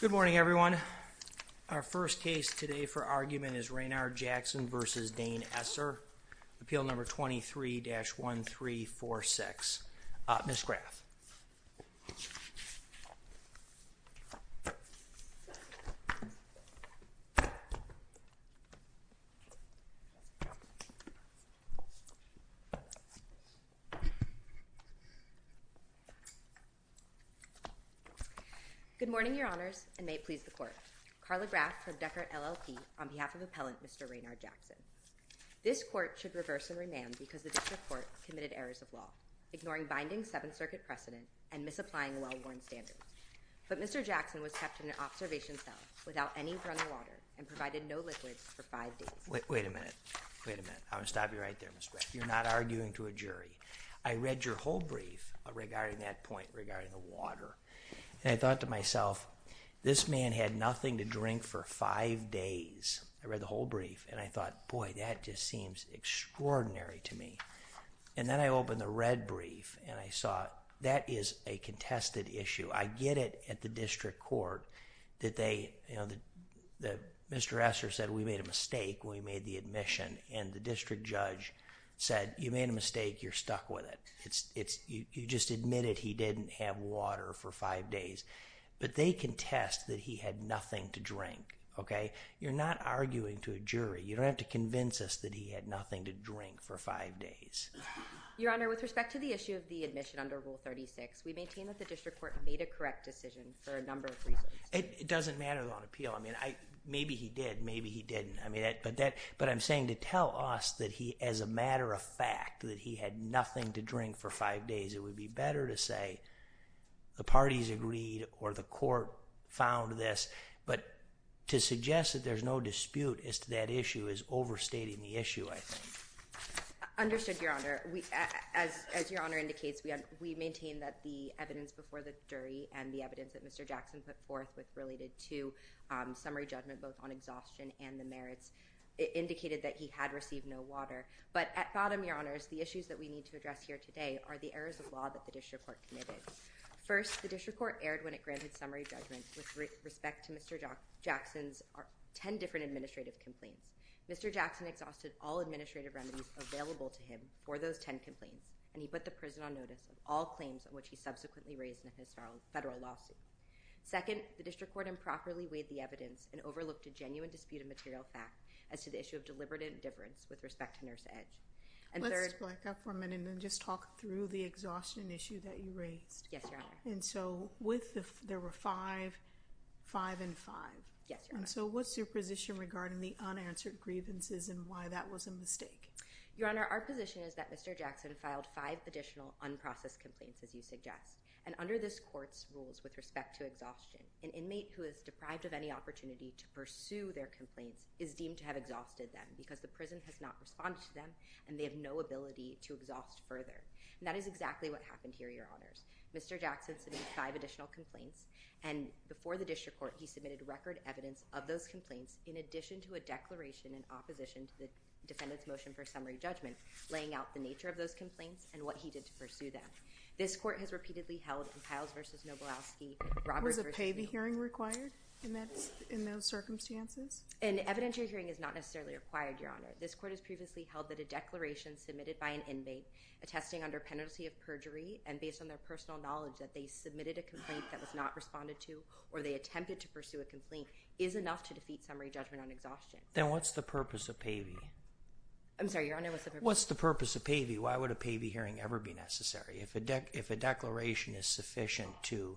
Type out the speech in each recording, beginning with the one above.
Good morning everyone. Our first case today for argument is Raynard Jackson v. Dane Esser, appeal number 23-1346. Ms. Graff. Good morning, Your Honors, and may it please the Court. Carla Graff from Deckert, LLP, on behalf of Appellant Mr. Raynard Jackson. This Court should reverse and rename because the District Court committed errors of law, ignoring binding Seventh Circuit precedent and misapplying well-worn standards. But Mr. Jackson was kept in an observation cell without any running water and provided no liquids for five days. Wait a minute. Wait a minute. I'm going to stop you right there, Ms. Graff. You're not arguing to a jury. I read your whole brief regarding that point regarding the water, and I thought to myself, this man had nothing to drink for five days. I read the whole brief, and I thought, boy, that just seems extraordinary to me. And then I opened the red brief, and I saw that is a contested issue. I get it at the District Court that Mr. Esser said we made a mistake when we made the admission, and the District Judge said, you made a mistake. You're not arguing to a jury. You don't have to convince us that he had nothing to drink for five days. Your Honor, with respect to the issue of the admission under Rule 36, we maintain that the District Court made a correct decision for a number of reasons. It doesn't matter on appeal. I mean, maybe he did, maybe he didn't. But I'm saying to tell us that he, as a matter of fact, that he had nothing to drink for five days, it would be better to say the parties agreed, or the court found this. But to suggest that there's no dispute as to that issue is overstating the issue, I think. Understood, Your Honor. As Your Honor indicates, we maintain that the evidence before the jury and the evidence that Mr. Jackson put forth with related to summary judgment, both on exhaustion and the merits, indicated that he had received no water. But at bottom, Your Honors, the issues that we need to address here today are the errors of law that the District Court committed. First, the District Court erred when it granted summary judgment with respect to Mr. Jackson's 10 different administrative complaints. Mr. Jackson exhausted all administrative remedies available to him for those 10 complaints, and he put the prison on notice of all claims on which he subsequently raised in his federal lawsuit. Second, the District Court improperly weighed the evidence and overlooked a genuine dispute of material fact as to the issue of deliberate indifference with respect to Nurse Edge. Let's break up for a minute and just talk through the exhaustion issue that you raised. Yes, Your Honor. And so there were five, five, and five. Yes, Your Honor. So what's your position regarding the unanswered grievances and why that was a mistake? Your Honor, our position is that Mr. Jackson filed five additional unprocessed complaints, as you suggest. And under this court's rules with respect to exhaustion, an inmate who is deprived of any opportunity to pursue their complaints is deemed to have exhausted them and they have no ability to exhaust further. And that is exactly what happened here, Your Honors. Mr. Jackson submitted five additional complaints, and before the District Court, he submitted record evidence of those complaints in addition to a declaration in opposition to the defendant's motion for summary judgment, laying out the nature of those complaints and what he did to pursue them. This court has repeatedly held in Piles v. Noblowski, Roberts v. Was a pavy hearing required in those circumstances? An evidentiary hearing is not necessarily required, Your Honor. This court has previously held that a declaration submitted by an inmate attesting under penalty of perjury and based on their personal knowledge that they submitted a complaint that was not responded to or they attempted to pursue a complaint is enough to defeat summary judgment on exhaustion. Then what's the purpose of pavy? I'm sorry, Your Honor, what's the purpose? What's the purpose of pavy? Why would a pavy hearing ever be necessary? If a declaration is sufficient to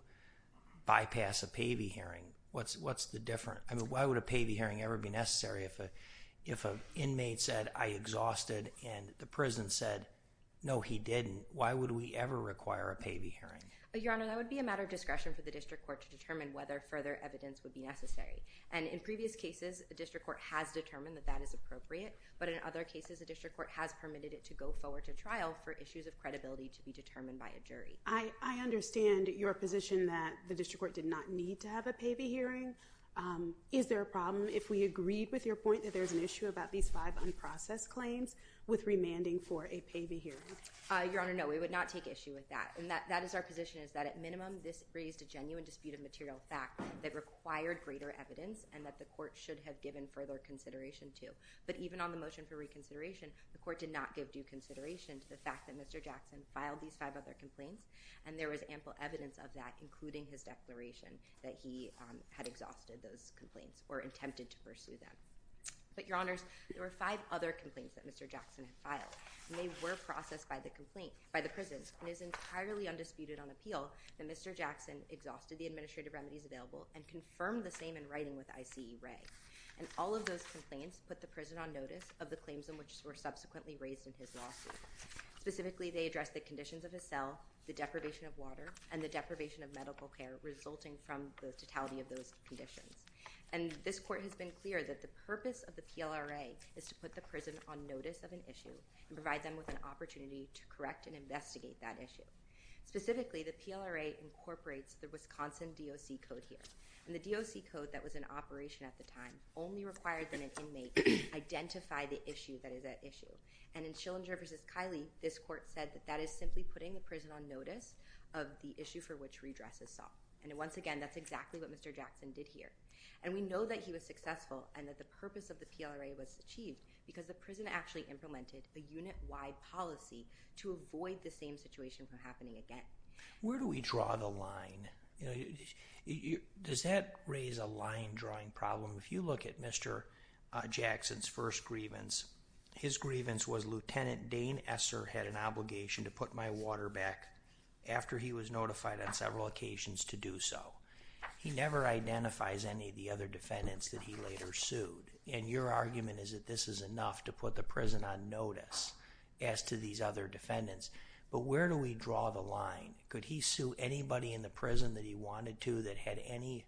bypass a pavy hearing, what's the difference? I mean, why would a pavy hearing ever be necessary if an inmate said, I exhausted and the prison said, no, he didn't. Why would we ever require a pavy hearing? Your Honor, that would be a matter of discretion for the District Court to determine whether further evidence would be necessary. And in previous cases, the District Court has determined that that is appropriate. But in other cases, the District Court has permitted it to go forward to trial for issues of credibility to be determined by a jury. I understand your position that the District Court did not need to have a pavy hearing. Is there a problem if we agreed with your point that there's an issue about these five unprocessed claims with remanding for a pavy hearing? Your Honor, no, we would not take issue with that. And that is our position is that at minimum, this raised a genuine dispute of material fact that required greater evidence and that the court should have given further consideration to. But even on the motion for reconsideration, the court did not give due consideration to the fact that Mr. Jackson filed these five other complaints. And there was ample evidence of that, including his those complaints or attempted to pursue them. But, Your Honors, there were five other complaints that Mr. Jackson had filed. And they were processed by the complaint, by the prison. It is entirely undisputed on appeal that Mr. Jackson exhausted the administrative remedies available and confirmed the same in writing with I.C. Ray. And all of those complaints put the prison on notice of the claims in which were subsequently raised in his lawsuit. Specifically, they addressed the conditions of his cell, the deprivation of water, and the deprivation of medical care resulting from the totality of those conditions. And this court has been clear that the purpose of the PLRA is to put the prison on notice of an issue and provide them with an opportunity to correct and investigate that issue. Specifically, the PLRA incorporates the Wisconsin D.O.C. Code here. And the D.O.C. Code that was in operation at the time only required that an inmate identify the issue that is at issue. And in Schillinger v. Kiley, this court said that that is simply putting the prison on notice of an issue for which redress is sought. And once again, that's exactly what Mr. Jackson did here. And we know that he was successful and that the purpose of the PLRA was achieved because the prison actually implemented a unit-wide policy to avoid the same situation from happening again. Where do we draw the line? Does that raise a line-drawing problem? If you look at Mr. Jackson's first grievance, his grievance was Lieutenant Dane Esser had an obligation to put my water back after he was notified on several occasions to do so. He never identifies any of the other defendants that he later sued. And your argument is that this is enough to put the prison on notice as to these other defendants. But where do we draw the line? Could he sue anybody in the prison that he wanted to that had any,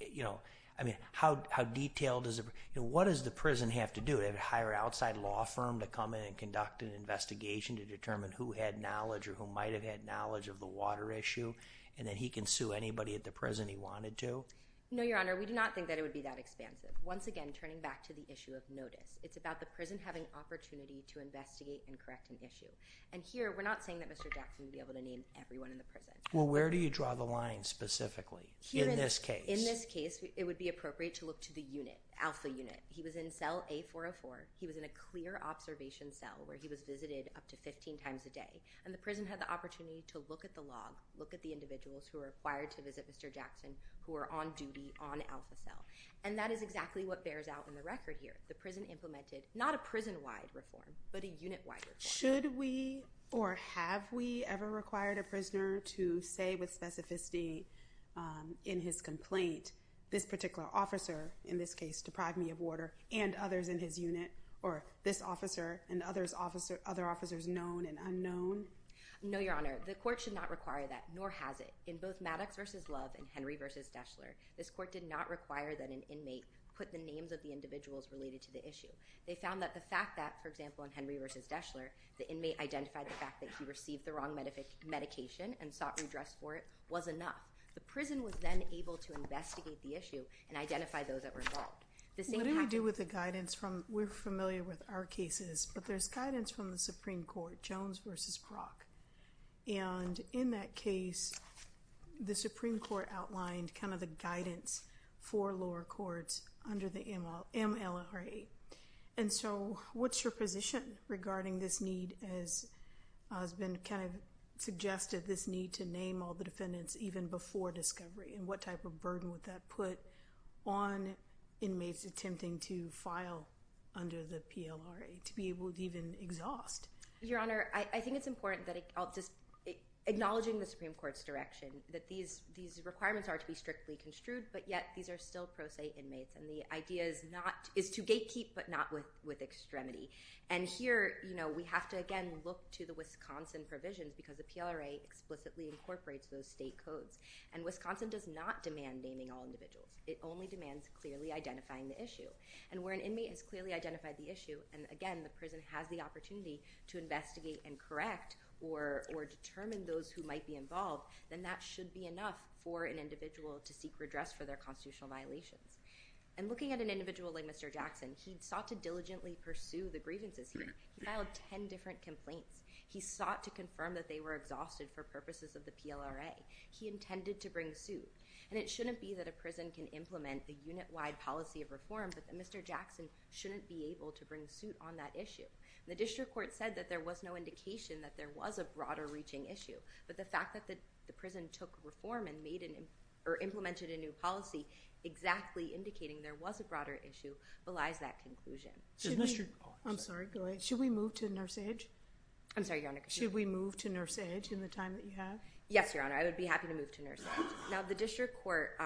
you know, I mean, how detailed is it? You know, what does the prison have to do? Did it hire an outside law firm to come in and conduct an investigation to determine who had knowledge or who might have had knowledge of the water issue? And then he can sue anybody at the prison he wanted to? No, Your Honor, we do not think that it would be that expansive. Once again, turning back to the issue of notice, it's about the prison having opportunity to investigate and correct an issue. And here, we're not saying that Mr. Jackson would be able to name everyone in the prison. Well, where do you draw the line specifically in this case? In this case, it would be appropriate to look to the unit, alpha unit. He was in cell A404. He was in a clear observation cell where he was visited up to 15 times a day. And the prison had the opportunity to look at the log, look at the individuals who are required to visit Mr. Jackson who are on duty on alpha cell. And that is exactly what bears out in the record here. The prison implemented not a prison-wide reform, but a unit-wide reform. Should we or have we ever required a prisoner to say with specificity in his complaint, this particular officer in this case deprived me of order and others in his unit, or this officer and other officers known and unknown? No, Your Honor, the court should not require that, nor has it. In both Maddox v. Love and Henry v. Deschler, this court did not require that an inmate put the names of the individuals related to the issue. They found that the fact that, for example, in Henry v. Deschler, the inmate identified the wrong medication and sought redress for it was enough. The prison was then able to investigate the issue and identify those that were involved. What do we do with the guidance? We're familiar with our cases, but there's guidance from the Supreme Court, Jones v. Brock. And in that case, the Supreme Court outlined kind of the guidance for lower courts under the MLRA. And so what's your position regarding this need, as has been kind of suggested, this need to name all the defendants even before discovery? And what type of burden would that put on inmates attempting to file under the PLRA to be able to even exhaust? Your Honor, I think it's important that I'll just acknowledging the Supreme Court's direction that these requirements are to be strictly construed, but yet these are still pro se inmates. And the idea is to gatekeep, but not with extremity. And here, we have to, again, look to the Wisconsin provisions because the PLRA explicitly incorporates those state codes. And Wisconsin does not demand naming all individuals. It only demands clearly identifying the issue. And where an inmate has clearly identified the issue, and again, the prison has the opportunity to investigate and correct or determine those who might be involved, then that should be enough for an individual to seek redress for their constitutional violations. And looking at an individual like Mr. Jackson, he sought to diligently pursue the grievances. He filed 10 different complaints. He sought to confirm that they were exhausted for purposes of the PLRA. He intended to bring suit. And it shouldn't be that a prison can implement a unit-wide policy of reform, but that Mr. Jackson shouldn't be able to bring suit on that issue. The district court said that there was no indication that there was a broader reaching issue. But the fact that the prison took reform and made or implemented a new policy exactly indicating there was a broader issue belies that conclusion. I'm sorry. Go ahead. Should we move to Nurse Edge? I'm sorry, Your Honor. Should we move to Nurse Edge in the time that you have? Yes, Your Honor. I would be happy to move to Nurse Edge. Now, the district court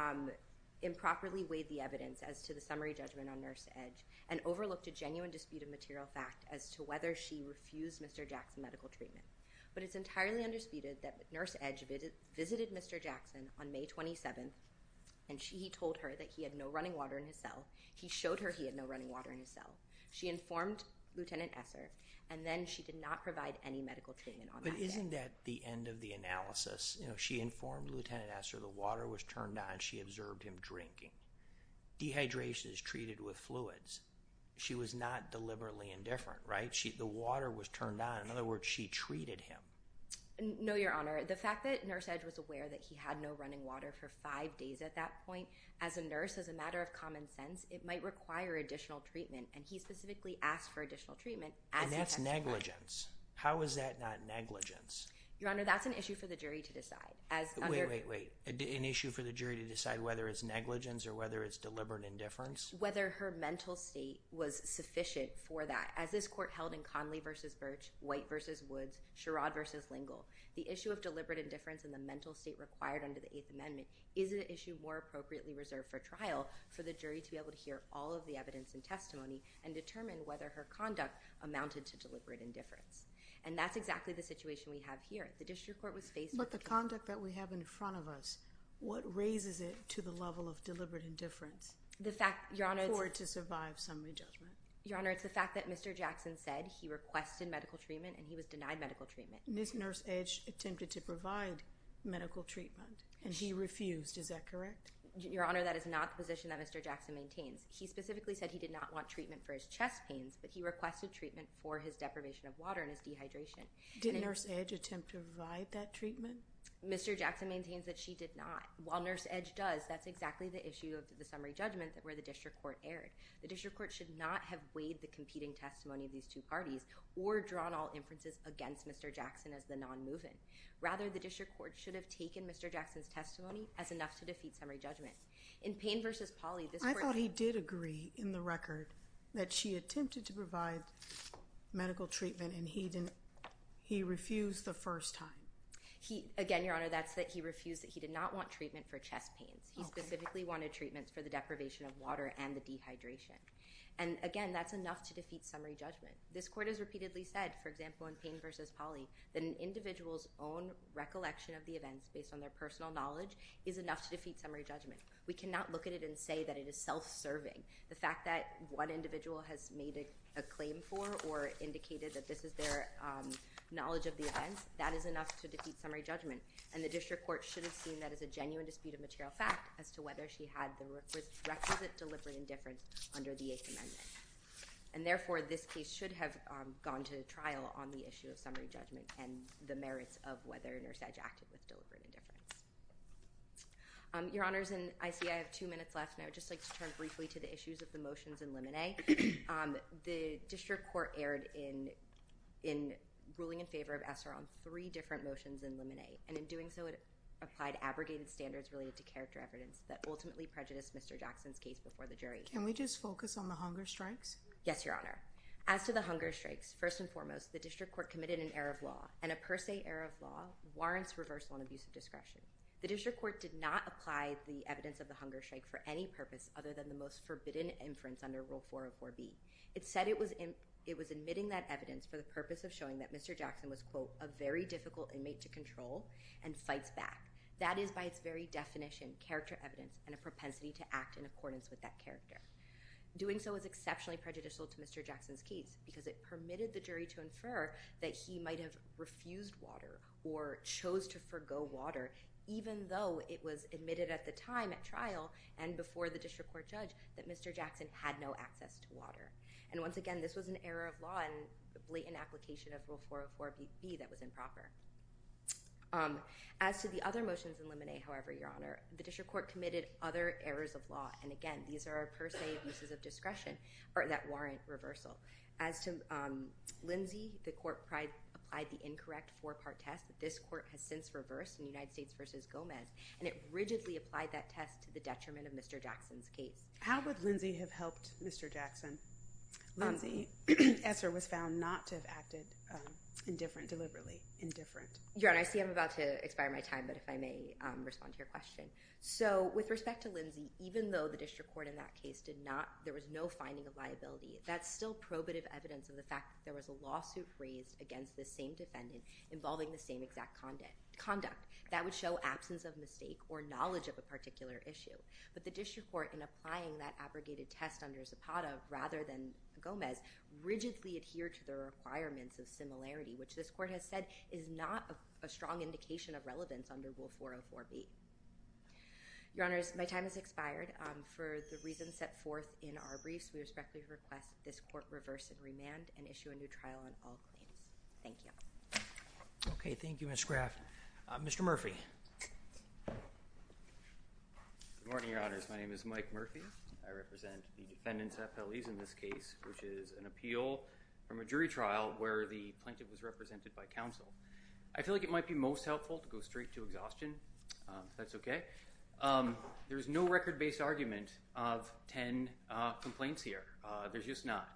improperly weighed the evidence as to the summary judgment on Nurse Edge and overlooked a genuine dispute of material fact as to whether she refused Mr. Jackson medical treatment. But it's entirely undisputed that Nurse Edge visited Mr. Jackson on May 27th, and he told her that he had no running water in his cell. He showed her he had no running water in his cell. She informed Lieutenant Esser, and then she did not provide any medical treatment on that day. But isn't that the end of the analysis? She informed Lieutenant Esser the water was turned on. She observed him drinking. Dehydration is treated with fluids. She was not deliberately indifferent, right? The water was turned on. In other words, she treated him. No, Your Honor. The fact that Nurse Edge was aware that he had no running water for five days at that point, as a nurse, as a matter of common sense, it might require additional treatment. And he specifically asked for additional treatment as he testified. And that's negligence. How is that not negligence? Your Honor, that's an issue for the jury to decide. Wait, wait, wait. An issue for the jury to decide whether it's negligence or whether it's deliberate indifference? Whether her mental state was sufficient for that. As this court held in Conley versus Birch, White versus Woods, Sherrod versus Lingle, the issue of deliberate indifference and the mental state required under the Eighth Amendment is an issue more appropriately reserved for trial for the jury to be able to hear all of the evidence and testimony and determine whether her conduct amounted to deliberate indifference. And that's exactly the situation we have here. The district court was faced with the conduct that we have in front of us. What raises it to the level of deliberate indifference? The fact, Your Honor— For it to survive summary judgment. Your Honor, it's the fact that Mr. Jackson said he requested medical treatment and he was denied medical treatment. Ms. Nurse Edge attempted to provide medical treatment and he refused. Is that correct? Your Honor, that is not the position that Mr. Jackson maintains. He specifically said he did not want treatment for his chest pains, but he requested treatment for his deprivation of water and his dehydration. Did Nurse Edge attempt to provide that treatment? Mr. Jackson maintains that she did not. While Nurse Edge does, that's exactly the issue of the summary judgment where the district court erred. The district court should not have weighed the competing testimony of these two parties or drawn all inferences against Mr. Jackson as the non-moving. Rather, the district court should have taken Mr. Jackson's testimony as enough to defeat summary judgment. In Payne v. Pauley, this court— I thought he did agree in the record that she attempted to provide medical treatment and he refused the first time. Again, Your Honor, that's that he refused. He did not want treatment for chest pains. He specifically wanted treatment for the deprivation of water and the dehydration. Again, that's enough to defeat summary judgment. This court has repeatedly said, for example, in Payne v. Pauley, that an individual's own recollection of the events based on their personal knowledge is enough to defeat summary judgment. We cannot look at it and say that it is self-serving. The fact that one individual has made a claim for or indicated that this is their knowledge of the events, that is enough to defeat summary judgment. And, therefore, this case should have gone to trial on the issue of summary judgment and the merits of whether Nurse Edge acted with deliberate indifference. Your Honors, I see I have two minutes left and I would just like to turn briefly to the issues of the motions in Limine. The district court erred in ruling in favor of ESSER on three different motions in Limine and in doing so, it applied abrogated standards related to character evidence that ultimately prejudiced Mr. Jackson's case before the jury. Can we just focus on the hunger strikes? Yes, Your Honor. As to the hunger strikes, first and foremost, the district court committed an error of law and a per se error of law warrants reversal and abuse of discretion. The district court did not apply the evidence of the hunger strike for any purpose other than the most forbidden inference under Rule 404B. It said it was admitting that evidence for the purpose of showing that Mr. Jackson was, quote, a very difficult inmate to control and fights back. That is, by its very definition, character evidence and a propensity to act in accordance with that character. Doing so is exceptionally prejudicial to Mr. Jackson's case because it permitted the jury to infer that he might have refused water or chose to forgo water even though it was admitted at the time at trial and before the district court judge that Mr. Jackson had no access to water. Once again, this was an error of law and the blatant application of Rule 404B that was improper. As to the other motions in Limine, however, Your Honor, the district court committed other errors of law. Again, these are per se abuses of discretion that warrant reversal. As to Lindsay, the court applied the incorrect four-part test that this court has since reversed in United States v. Gomez. It rigidly applied that test to the detriment of Mr. Jackson's case. How would Lindsay have helped Mr. Jackson? Lindsay Esser was found not to have acted indifferently, deliberately indifferent. Your Honor, I see I'm about to expire my time, but if I may respond to your question. With respect to Lindsay, even though the district court in that case did not, there was no finding of liability, that's still probative evidence of the fact that there was a lawsuit raised against the same defendant involving the same exact conduct. That would show absence of mistake or knowledge of a particular issue. But the district court in applying that abrogated test under Zapata rather than Gomez rigidly adhered to the requirements of similarity, which this court has said is not a strong indication of relevance under Rule 404B. Your Honors, my time has expired. For the reasons set forth in our briefs, we respectfully request this court reverse and remand and issue a new trial on all claims. Thank you. Okay, thank you. My name is Mike Murphy. I represent the defendant's FLEs in this case, which is an appeal from a jury trial where the plaintiff was represented by counsel. I feel like it might be most helpful to go straight to exhaustion, if that's okay. There is no record-based argument of 10 complaints here. There's just not.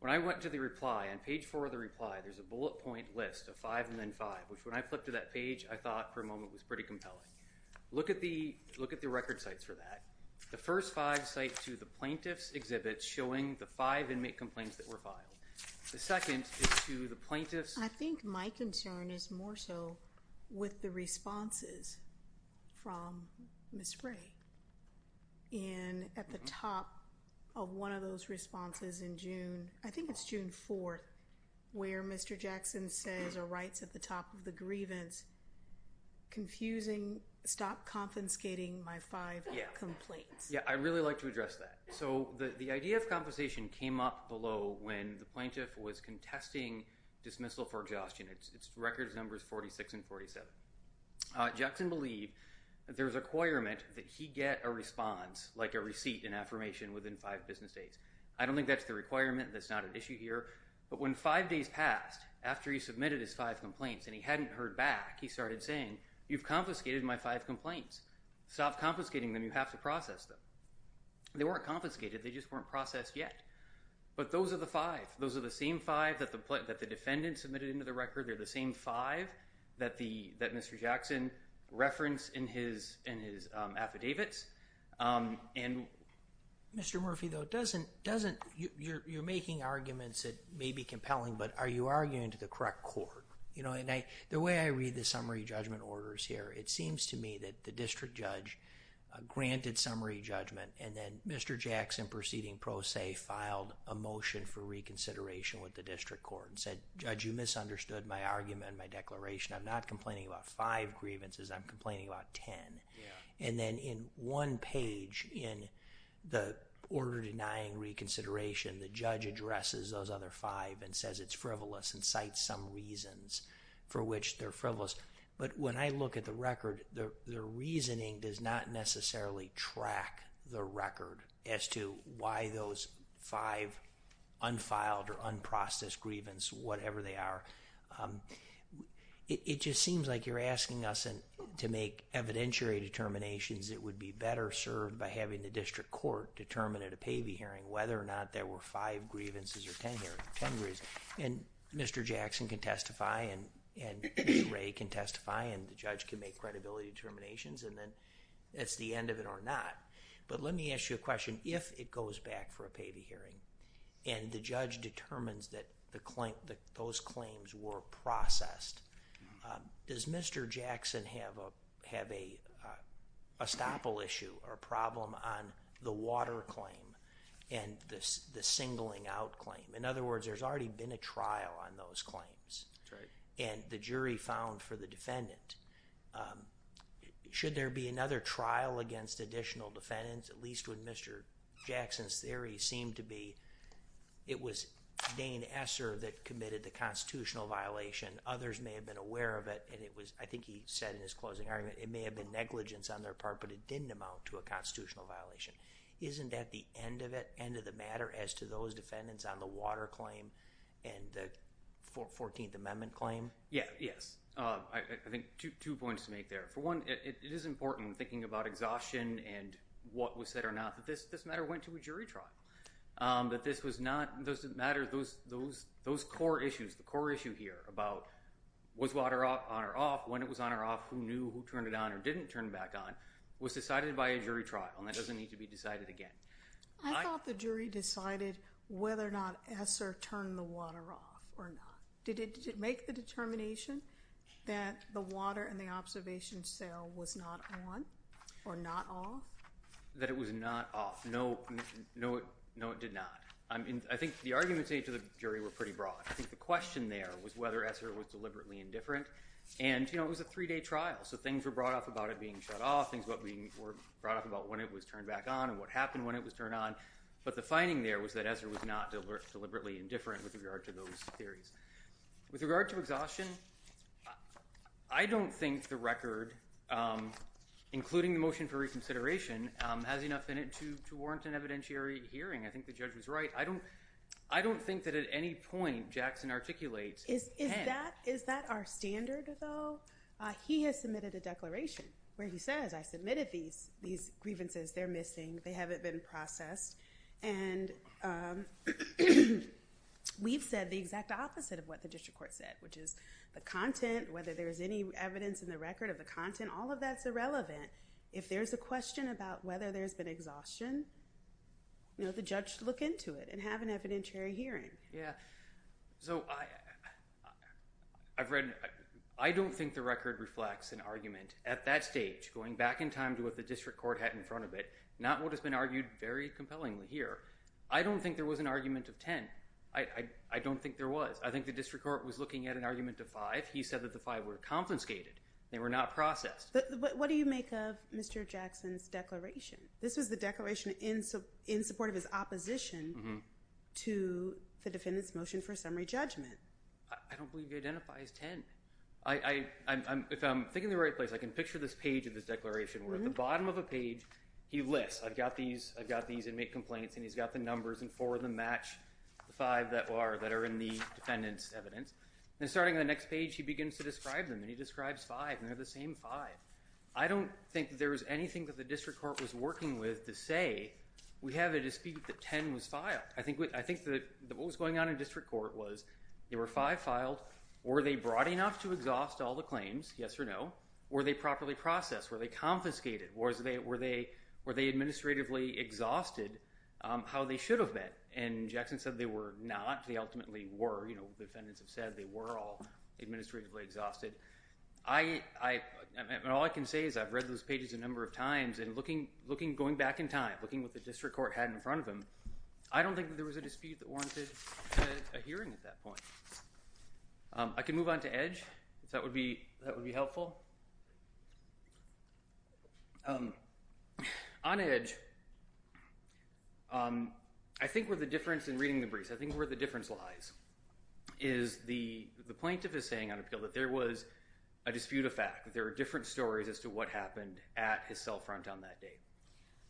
When I went to the reply, on page four of the reply, there's a bullet point list of five and then five, which when I flipped to that page, I thought for a moment was pretty compelling. Look at the record sites for that. The first five site to the plaintiff's exhibit showing the five inmate complaints that were filed. The second is to the plaintiff's. I think my concern is more so with the responses from Ms. Frey. And at the top of one of those responses in June, I think it's June 4th, where Mr. Jackson says or writes at the top of the grievance, confusing, stop confiscating my five complaints. Yeah. I really like to address that. So the idea of compensation came up below when the plaintiff was contesting dismissal for exhaustion. It's records numbers 46 and 47. Jackson believed that there was a requirement that he get a response, like a receipt, an affirmation within five business days. I don't think that's the requirement. That's not an issue here. But when five days passed after he submitted his five complaints and he hadn't heard back, he started saying, you've confiscated my five complaints. Stop confiscating them. You have to process them. They weren't confiscated. They just weren't processed yet. But those are the five. Those are the same five that the defendant submitted into the record. They're the same five that Mr. Jackson referenced in his affidavits. Mr. Murphy, though, you're making arguments that may be compelling, but are you arguing to the way I read the summary judgment orders here, it seems to me that the district judge granted summary judgment and then Mr. Jackson proceeding pro se filed a motion for reconsideration with the district court and said, judge, you misunderstood my argument and my declaration. I'm not complaining about five grievances. I'm complaining about 10. And then in one page in the order denying reconsideration, the judge addresses those other five and says it's frivolous and cites some reasons for which they're frivolous. But when I look at the record, the reasoning does not necessarily track the record as to why those five unfiled or unprocessed grievance, whatever they are. It just seems like you're asking us to make evidentiary determinations that would be better served by having the district court determine at a And Mr. Jackson can testify and Ray can testify and the judge can make credibility determinations and then it's the end of it or not. But let me ask you a question. If it goes back for a pay to hearing and the judge determines that those claims were processed, does Mr. Jackson have a estoppel issue or problem on the water claim and the singling out claim? In other words, there's already been a trial on those claims and the jury found for the defendant. Should there be another trial against additional defendants? At least when Mr. Jackson's theory seemed to be, it was Dane Esser that committed the constitutional violation. Others may have been aware of it and it was, I think he said in his closing argument, it may have been negligence on their part, but it didn't amount to a constitutional violation. Isn't that the end of it? End of the matter as to those defendants on the water claim and the 14th Amendment claim? Yes. I think two points to make there. For one, it is important thinking about exhaustion and what was said or not that this matter went to a jury trial. That this was not, those matters, those core issues, the core issue here about was water on or off, when it was on or off, who knew, who turned it on or didn't turn back on, was decided by a jury trial and that doesn't need to be decided again. I thought the jury decided whether or not Esser turned the water off or not. Did it make the determination that the water and the observation cell was not on or not off? That it was not off. No, it did not. I think the arguments made to the jury were pretty broad. I think the question there was whether Esser was deliberately indifferent and it was a three-day trial, so things were brought up about it being shut off, things were brought up about when it was turned back on and what happened when it was turned on, but the finding there was that Esser was not deliberately indifferent with regard to those theories. With regard to exhaustion, I don't think the record, including the motion for reconsideration, has enough in it to warrant an evidentiary hearing. I think the judge was right. I don't think that at any point Jackson articulates— Is that our standard, though? He has submitted a declaration where he says, I submitted these grievances, they're missing, they haven't been processed, and we've said the exact opposite of what the district court said, which is the content, whether there's any evidence in the record of the content, all of that's irrelevant. If there's a question about whether there's been exhaustion, the judge should look into it and have an evidentiary hearing. Yeah. I don't think the record reflects an argument at that stage, going back in time to what the district court had in front of it, not what has been argued very compellingly here. I don't think there was an argument of ten. I don't think there was. I think the district court was looking at an argument of five. He said that the five were confiscated. They were not processed. What do you make of Mr. Jackson's declaration? This was the defendant's motion for summary judgment. I don't believe he identifies ten. If I'm thinking in the right place, I can picture this page of this declaration, where at the bottom of a page he lists, I've got these inmate complaints, and he's got the numbers, and four of them match the five that are in the defendant's evidence. Then starting on the next page, he begins to describe them, and he describes five, and they're the same five. I don't think that there was anything that the district court was working with to say, we have a dispute that ten was filed. I think that what was going on in district court was there were five filed. Were they broad enough to exhaust all the claims, yes or no? Were they properly processed? Were they confiscated? Were they administratively exhausted, how they should have been? Jackson said they were not. They ultimately were. The defendants have said they were all administratively exhausted. All I can say is I've read those pages a number of times, and going back in time, looking at what the district court had in front of him, I don't think there was a dispute that warranted a hearing at that point. I can move on to Edge, if that would be helpful. On Edge, I think where the difference in reading the briefs, I think where the difference lies is the plaintiff is saying on appeal that there was a dispute of fact, that there were different stories as to what happened at his cell front on that day.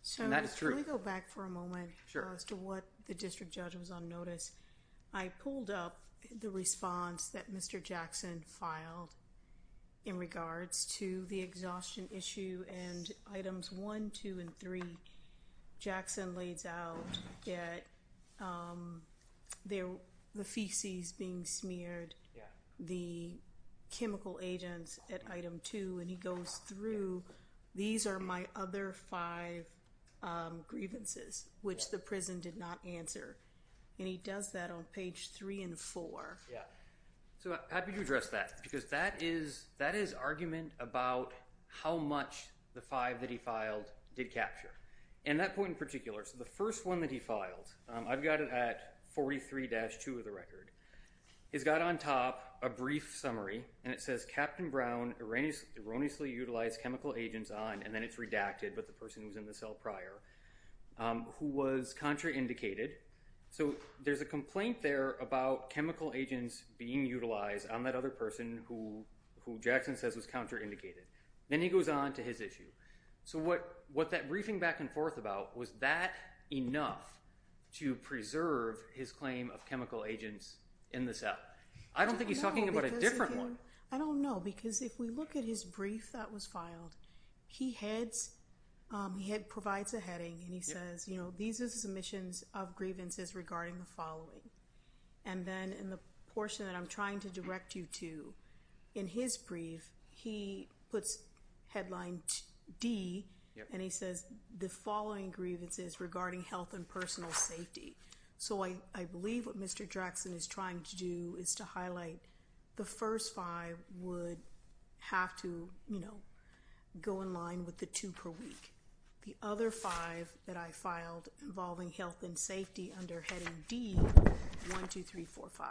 So let's really go back for a moment as to what the district judge was on notice. I pulled up the response that Mr. Jackson filed in regards to the exhaustion issue and items one, two, and three. Jackson lays out that the feces being smeared, the chemical agents at item two, and he goes through, these are my other five grievances, which the prison did not answer. And he does that on page three and four. Yeah. So happy to address that, because that is argument about how much the five that he filed did capture. And that point in particular, so the first one that he filed, I've got it at 43-2 of the record. He's got on top a brief summary, and it says Captain Brown erroneously utilized chemical agents on, and then it's redacted, but the person who was in the cell prior, who was contraindicated. So there's a complaint there about chemical agents being utilized on that other person who Jackson says was contraindicated. Then he goes on to his issue. So what that briefing back and forth about, was that enough to preserve his claim of chemical because if we look at his brief that was filed, he provides a heading and he says, these are the submissions of grievances regarding the following. And then in the portion that I'm trying to direct you to, in his brief, he puts headline D, and he says the following grievances regarding health and personal safety. So I believe what Mr. Jackson is trying to do is to highlight the first five would have to go in line with the two per week. The other five that I filed involving health and safety under heading D, 1, 2, 3, 4, 5.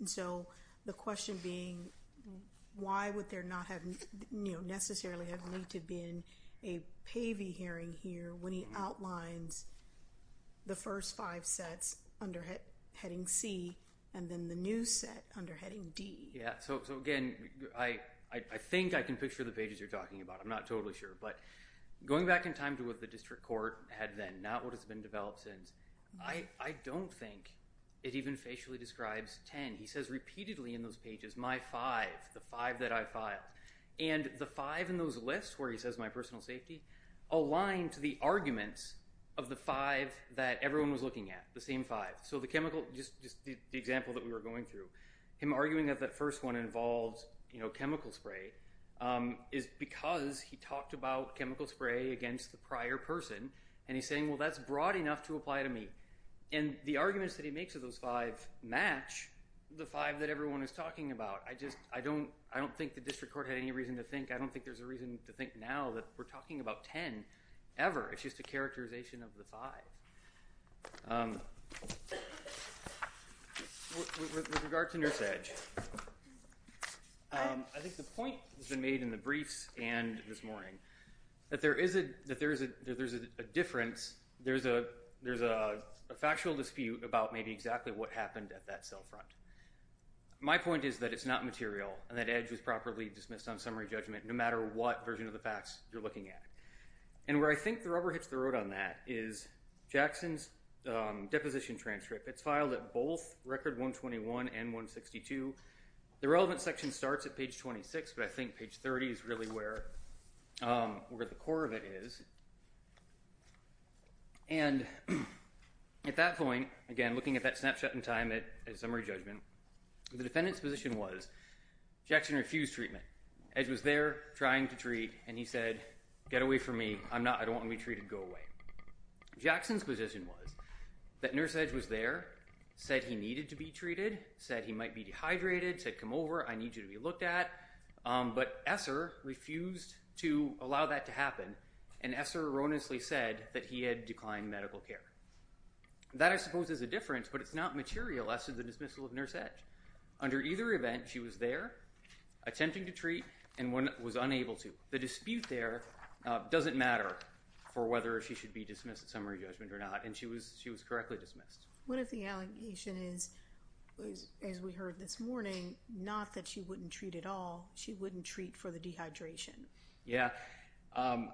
And so the question being, why would there not have necessarily have need to have been a PAVI hearing here when he outlines the first five sets under heading C and then the new set under heading D? Yeah. So again, I think I can picture the pages you're talking about. I'm not totally sure. But going back in time to what the district court had then, not what has been developed since, I don't think it even facially describes 10. He says repeatedly in those pages, my five, the five that I filed. And the five in those lists where he says my personal safety, aligned to the arguments of the five that everyone was looking at, the same five. So the chemical, just the example that we were going through, him arguing that that first one involves chemical spray is because he talked about chemical spray against the prior person. And he's saying, well, that's broad enough to apply to me. And the arguments that he makes of those five match the five that everyone is talking about. I don't think the district court had any reason to think. I don't think there's a reason to think now that we're talking about 10 ever. It's just a characterization of the five. With regard to Nurse Edge, I think the point has been made in the briefs and this morning that there is a difference. There's a factual dispute about maybe exactly what happened at that cell front. My point is that it's not material and that Edge was properly dismissed on summary judgment no matter what version of the facts you're looking at. And where I think the rubber hits the road on that is Jackson's deposition transcript. It's filed at both record 121 and 162. The relevant section starts at page 26, but I think page 30 is really where the core of it is. And at that point, again, looking at that snapshot in time at summary judgment, the defendant's position was Jackson refused treatment. Edge was there trying to treat, and he said, get away from me. I'm not. I don't want to be treated. Go away. Jackson's position was that Nurse Edge was there, said he needed to be treated, said he might be dehydrated, said come over. I need you to be looked at. But Esser refused to allow that to happen, and Esser erroneously said that he had declined medical care. That, I suppose, is a difference, but it's not material as to the dismissal of Nurse Edge. Under either event, she was there attempting to treat and was unable to. The dispute there doesn't matter for whether she should be dismissed at summary judgment or not, and she was correctly dismissed. What if the allegation is, as we heard this morning, not that she wouldn't treat at all, she wouldn't treat for the dehydration? Yeah. The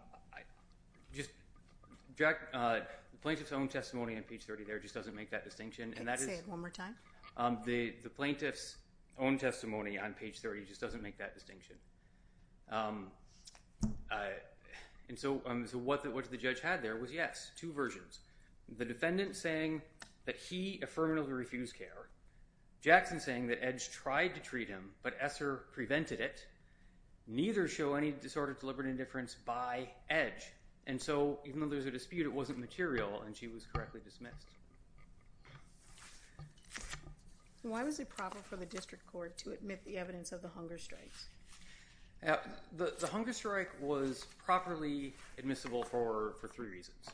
plaintiff's own testimony on page 30 there just doesn't make that distinction. Can you say it one more time? The plaintiff's own testimony on page 30 just doesn't make that distinction. And so what the judge had there was, yes, two versions. The defendant saying that he affirmatively refused care. Jackson saying that Edge tried to treat him, but Esser prevented it. Neither show any disorder of deliberate indifference by Edge. And so even though there's a dispute, it wasn't material, and she was correctly dismissed. Why was it proper for the district court to admit the evidence of the hunger strikes? The hunger strike was properly admissible for three reasons.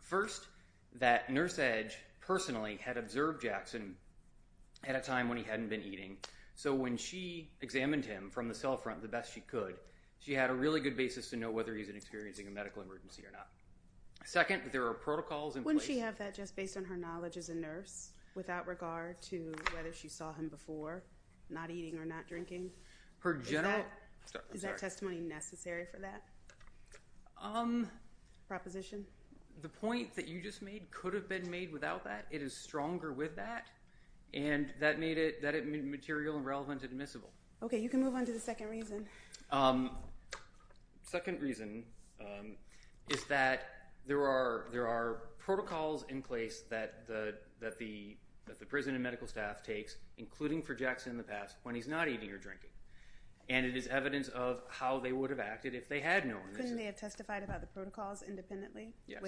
First, that Nurse Edge personally had observed Jackson at a time when he hadn't been eating. So when she examined him from the cell front the best she could, she had a really good basis to know whether he's experiencing a medical emergency or not. Second, there are protocols in place. Wouldn't she have that just based on her knowledge as a nurse, without regard to whether she saw him before, not eating or not drinking? Is that testimony necessary for that? Proposition? The point that you just made could have been made without that. It is stronger with that, and that made it material and relevant and admissible. Okay, you can move on to the second reason. Second reason is that there are protocols in place that the prison and medical staff takes, including for Jackson in the past, when he's not eating or drinking. And it is evidence of how they would have acted if they had known. Couldn't they have testified about the protocols independently? Yes.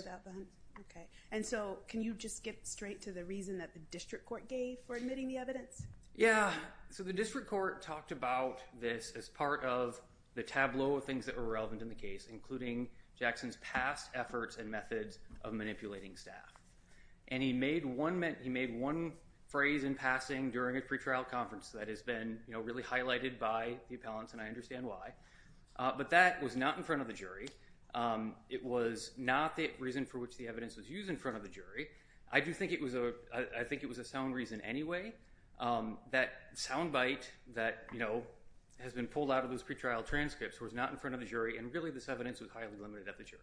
Okay, and so can you just get straight to the reason that the district court gave for admitting the evidence? Yeah, so the district court talked about this as part of the tableau of things that were relevant in the case, including Jackson's past efforts and methods of manipulating staff. And he made one phrase in passing during a pre-trial conference that has really been highlighted by the appellants, and I understand why. But that was not in front of the jury. It was not the reason for which the evidence was used in front of the jury. I do think it was a sound reason anyway. That sound bite that has been pulled out of those pre-trial transcripts was not in front of the jury, and really this evidence was highly limited at the jury.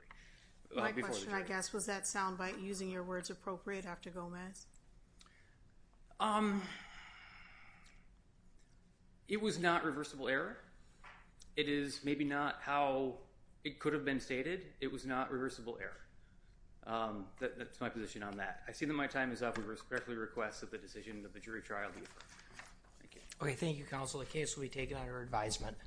My question, I guess, was that sound bite using your words appropriate, Dr. Gomez? It was not reversible error. It is maybe not how it could have been stated. It was not reversible error. That's my position on that. I see that my time is up. I respectfully request that the decision of the jury trial be approved. Thank you. Okay, thank you, counsel. The case will be taken under advisement.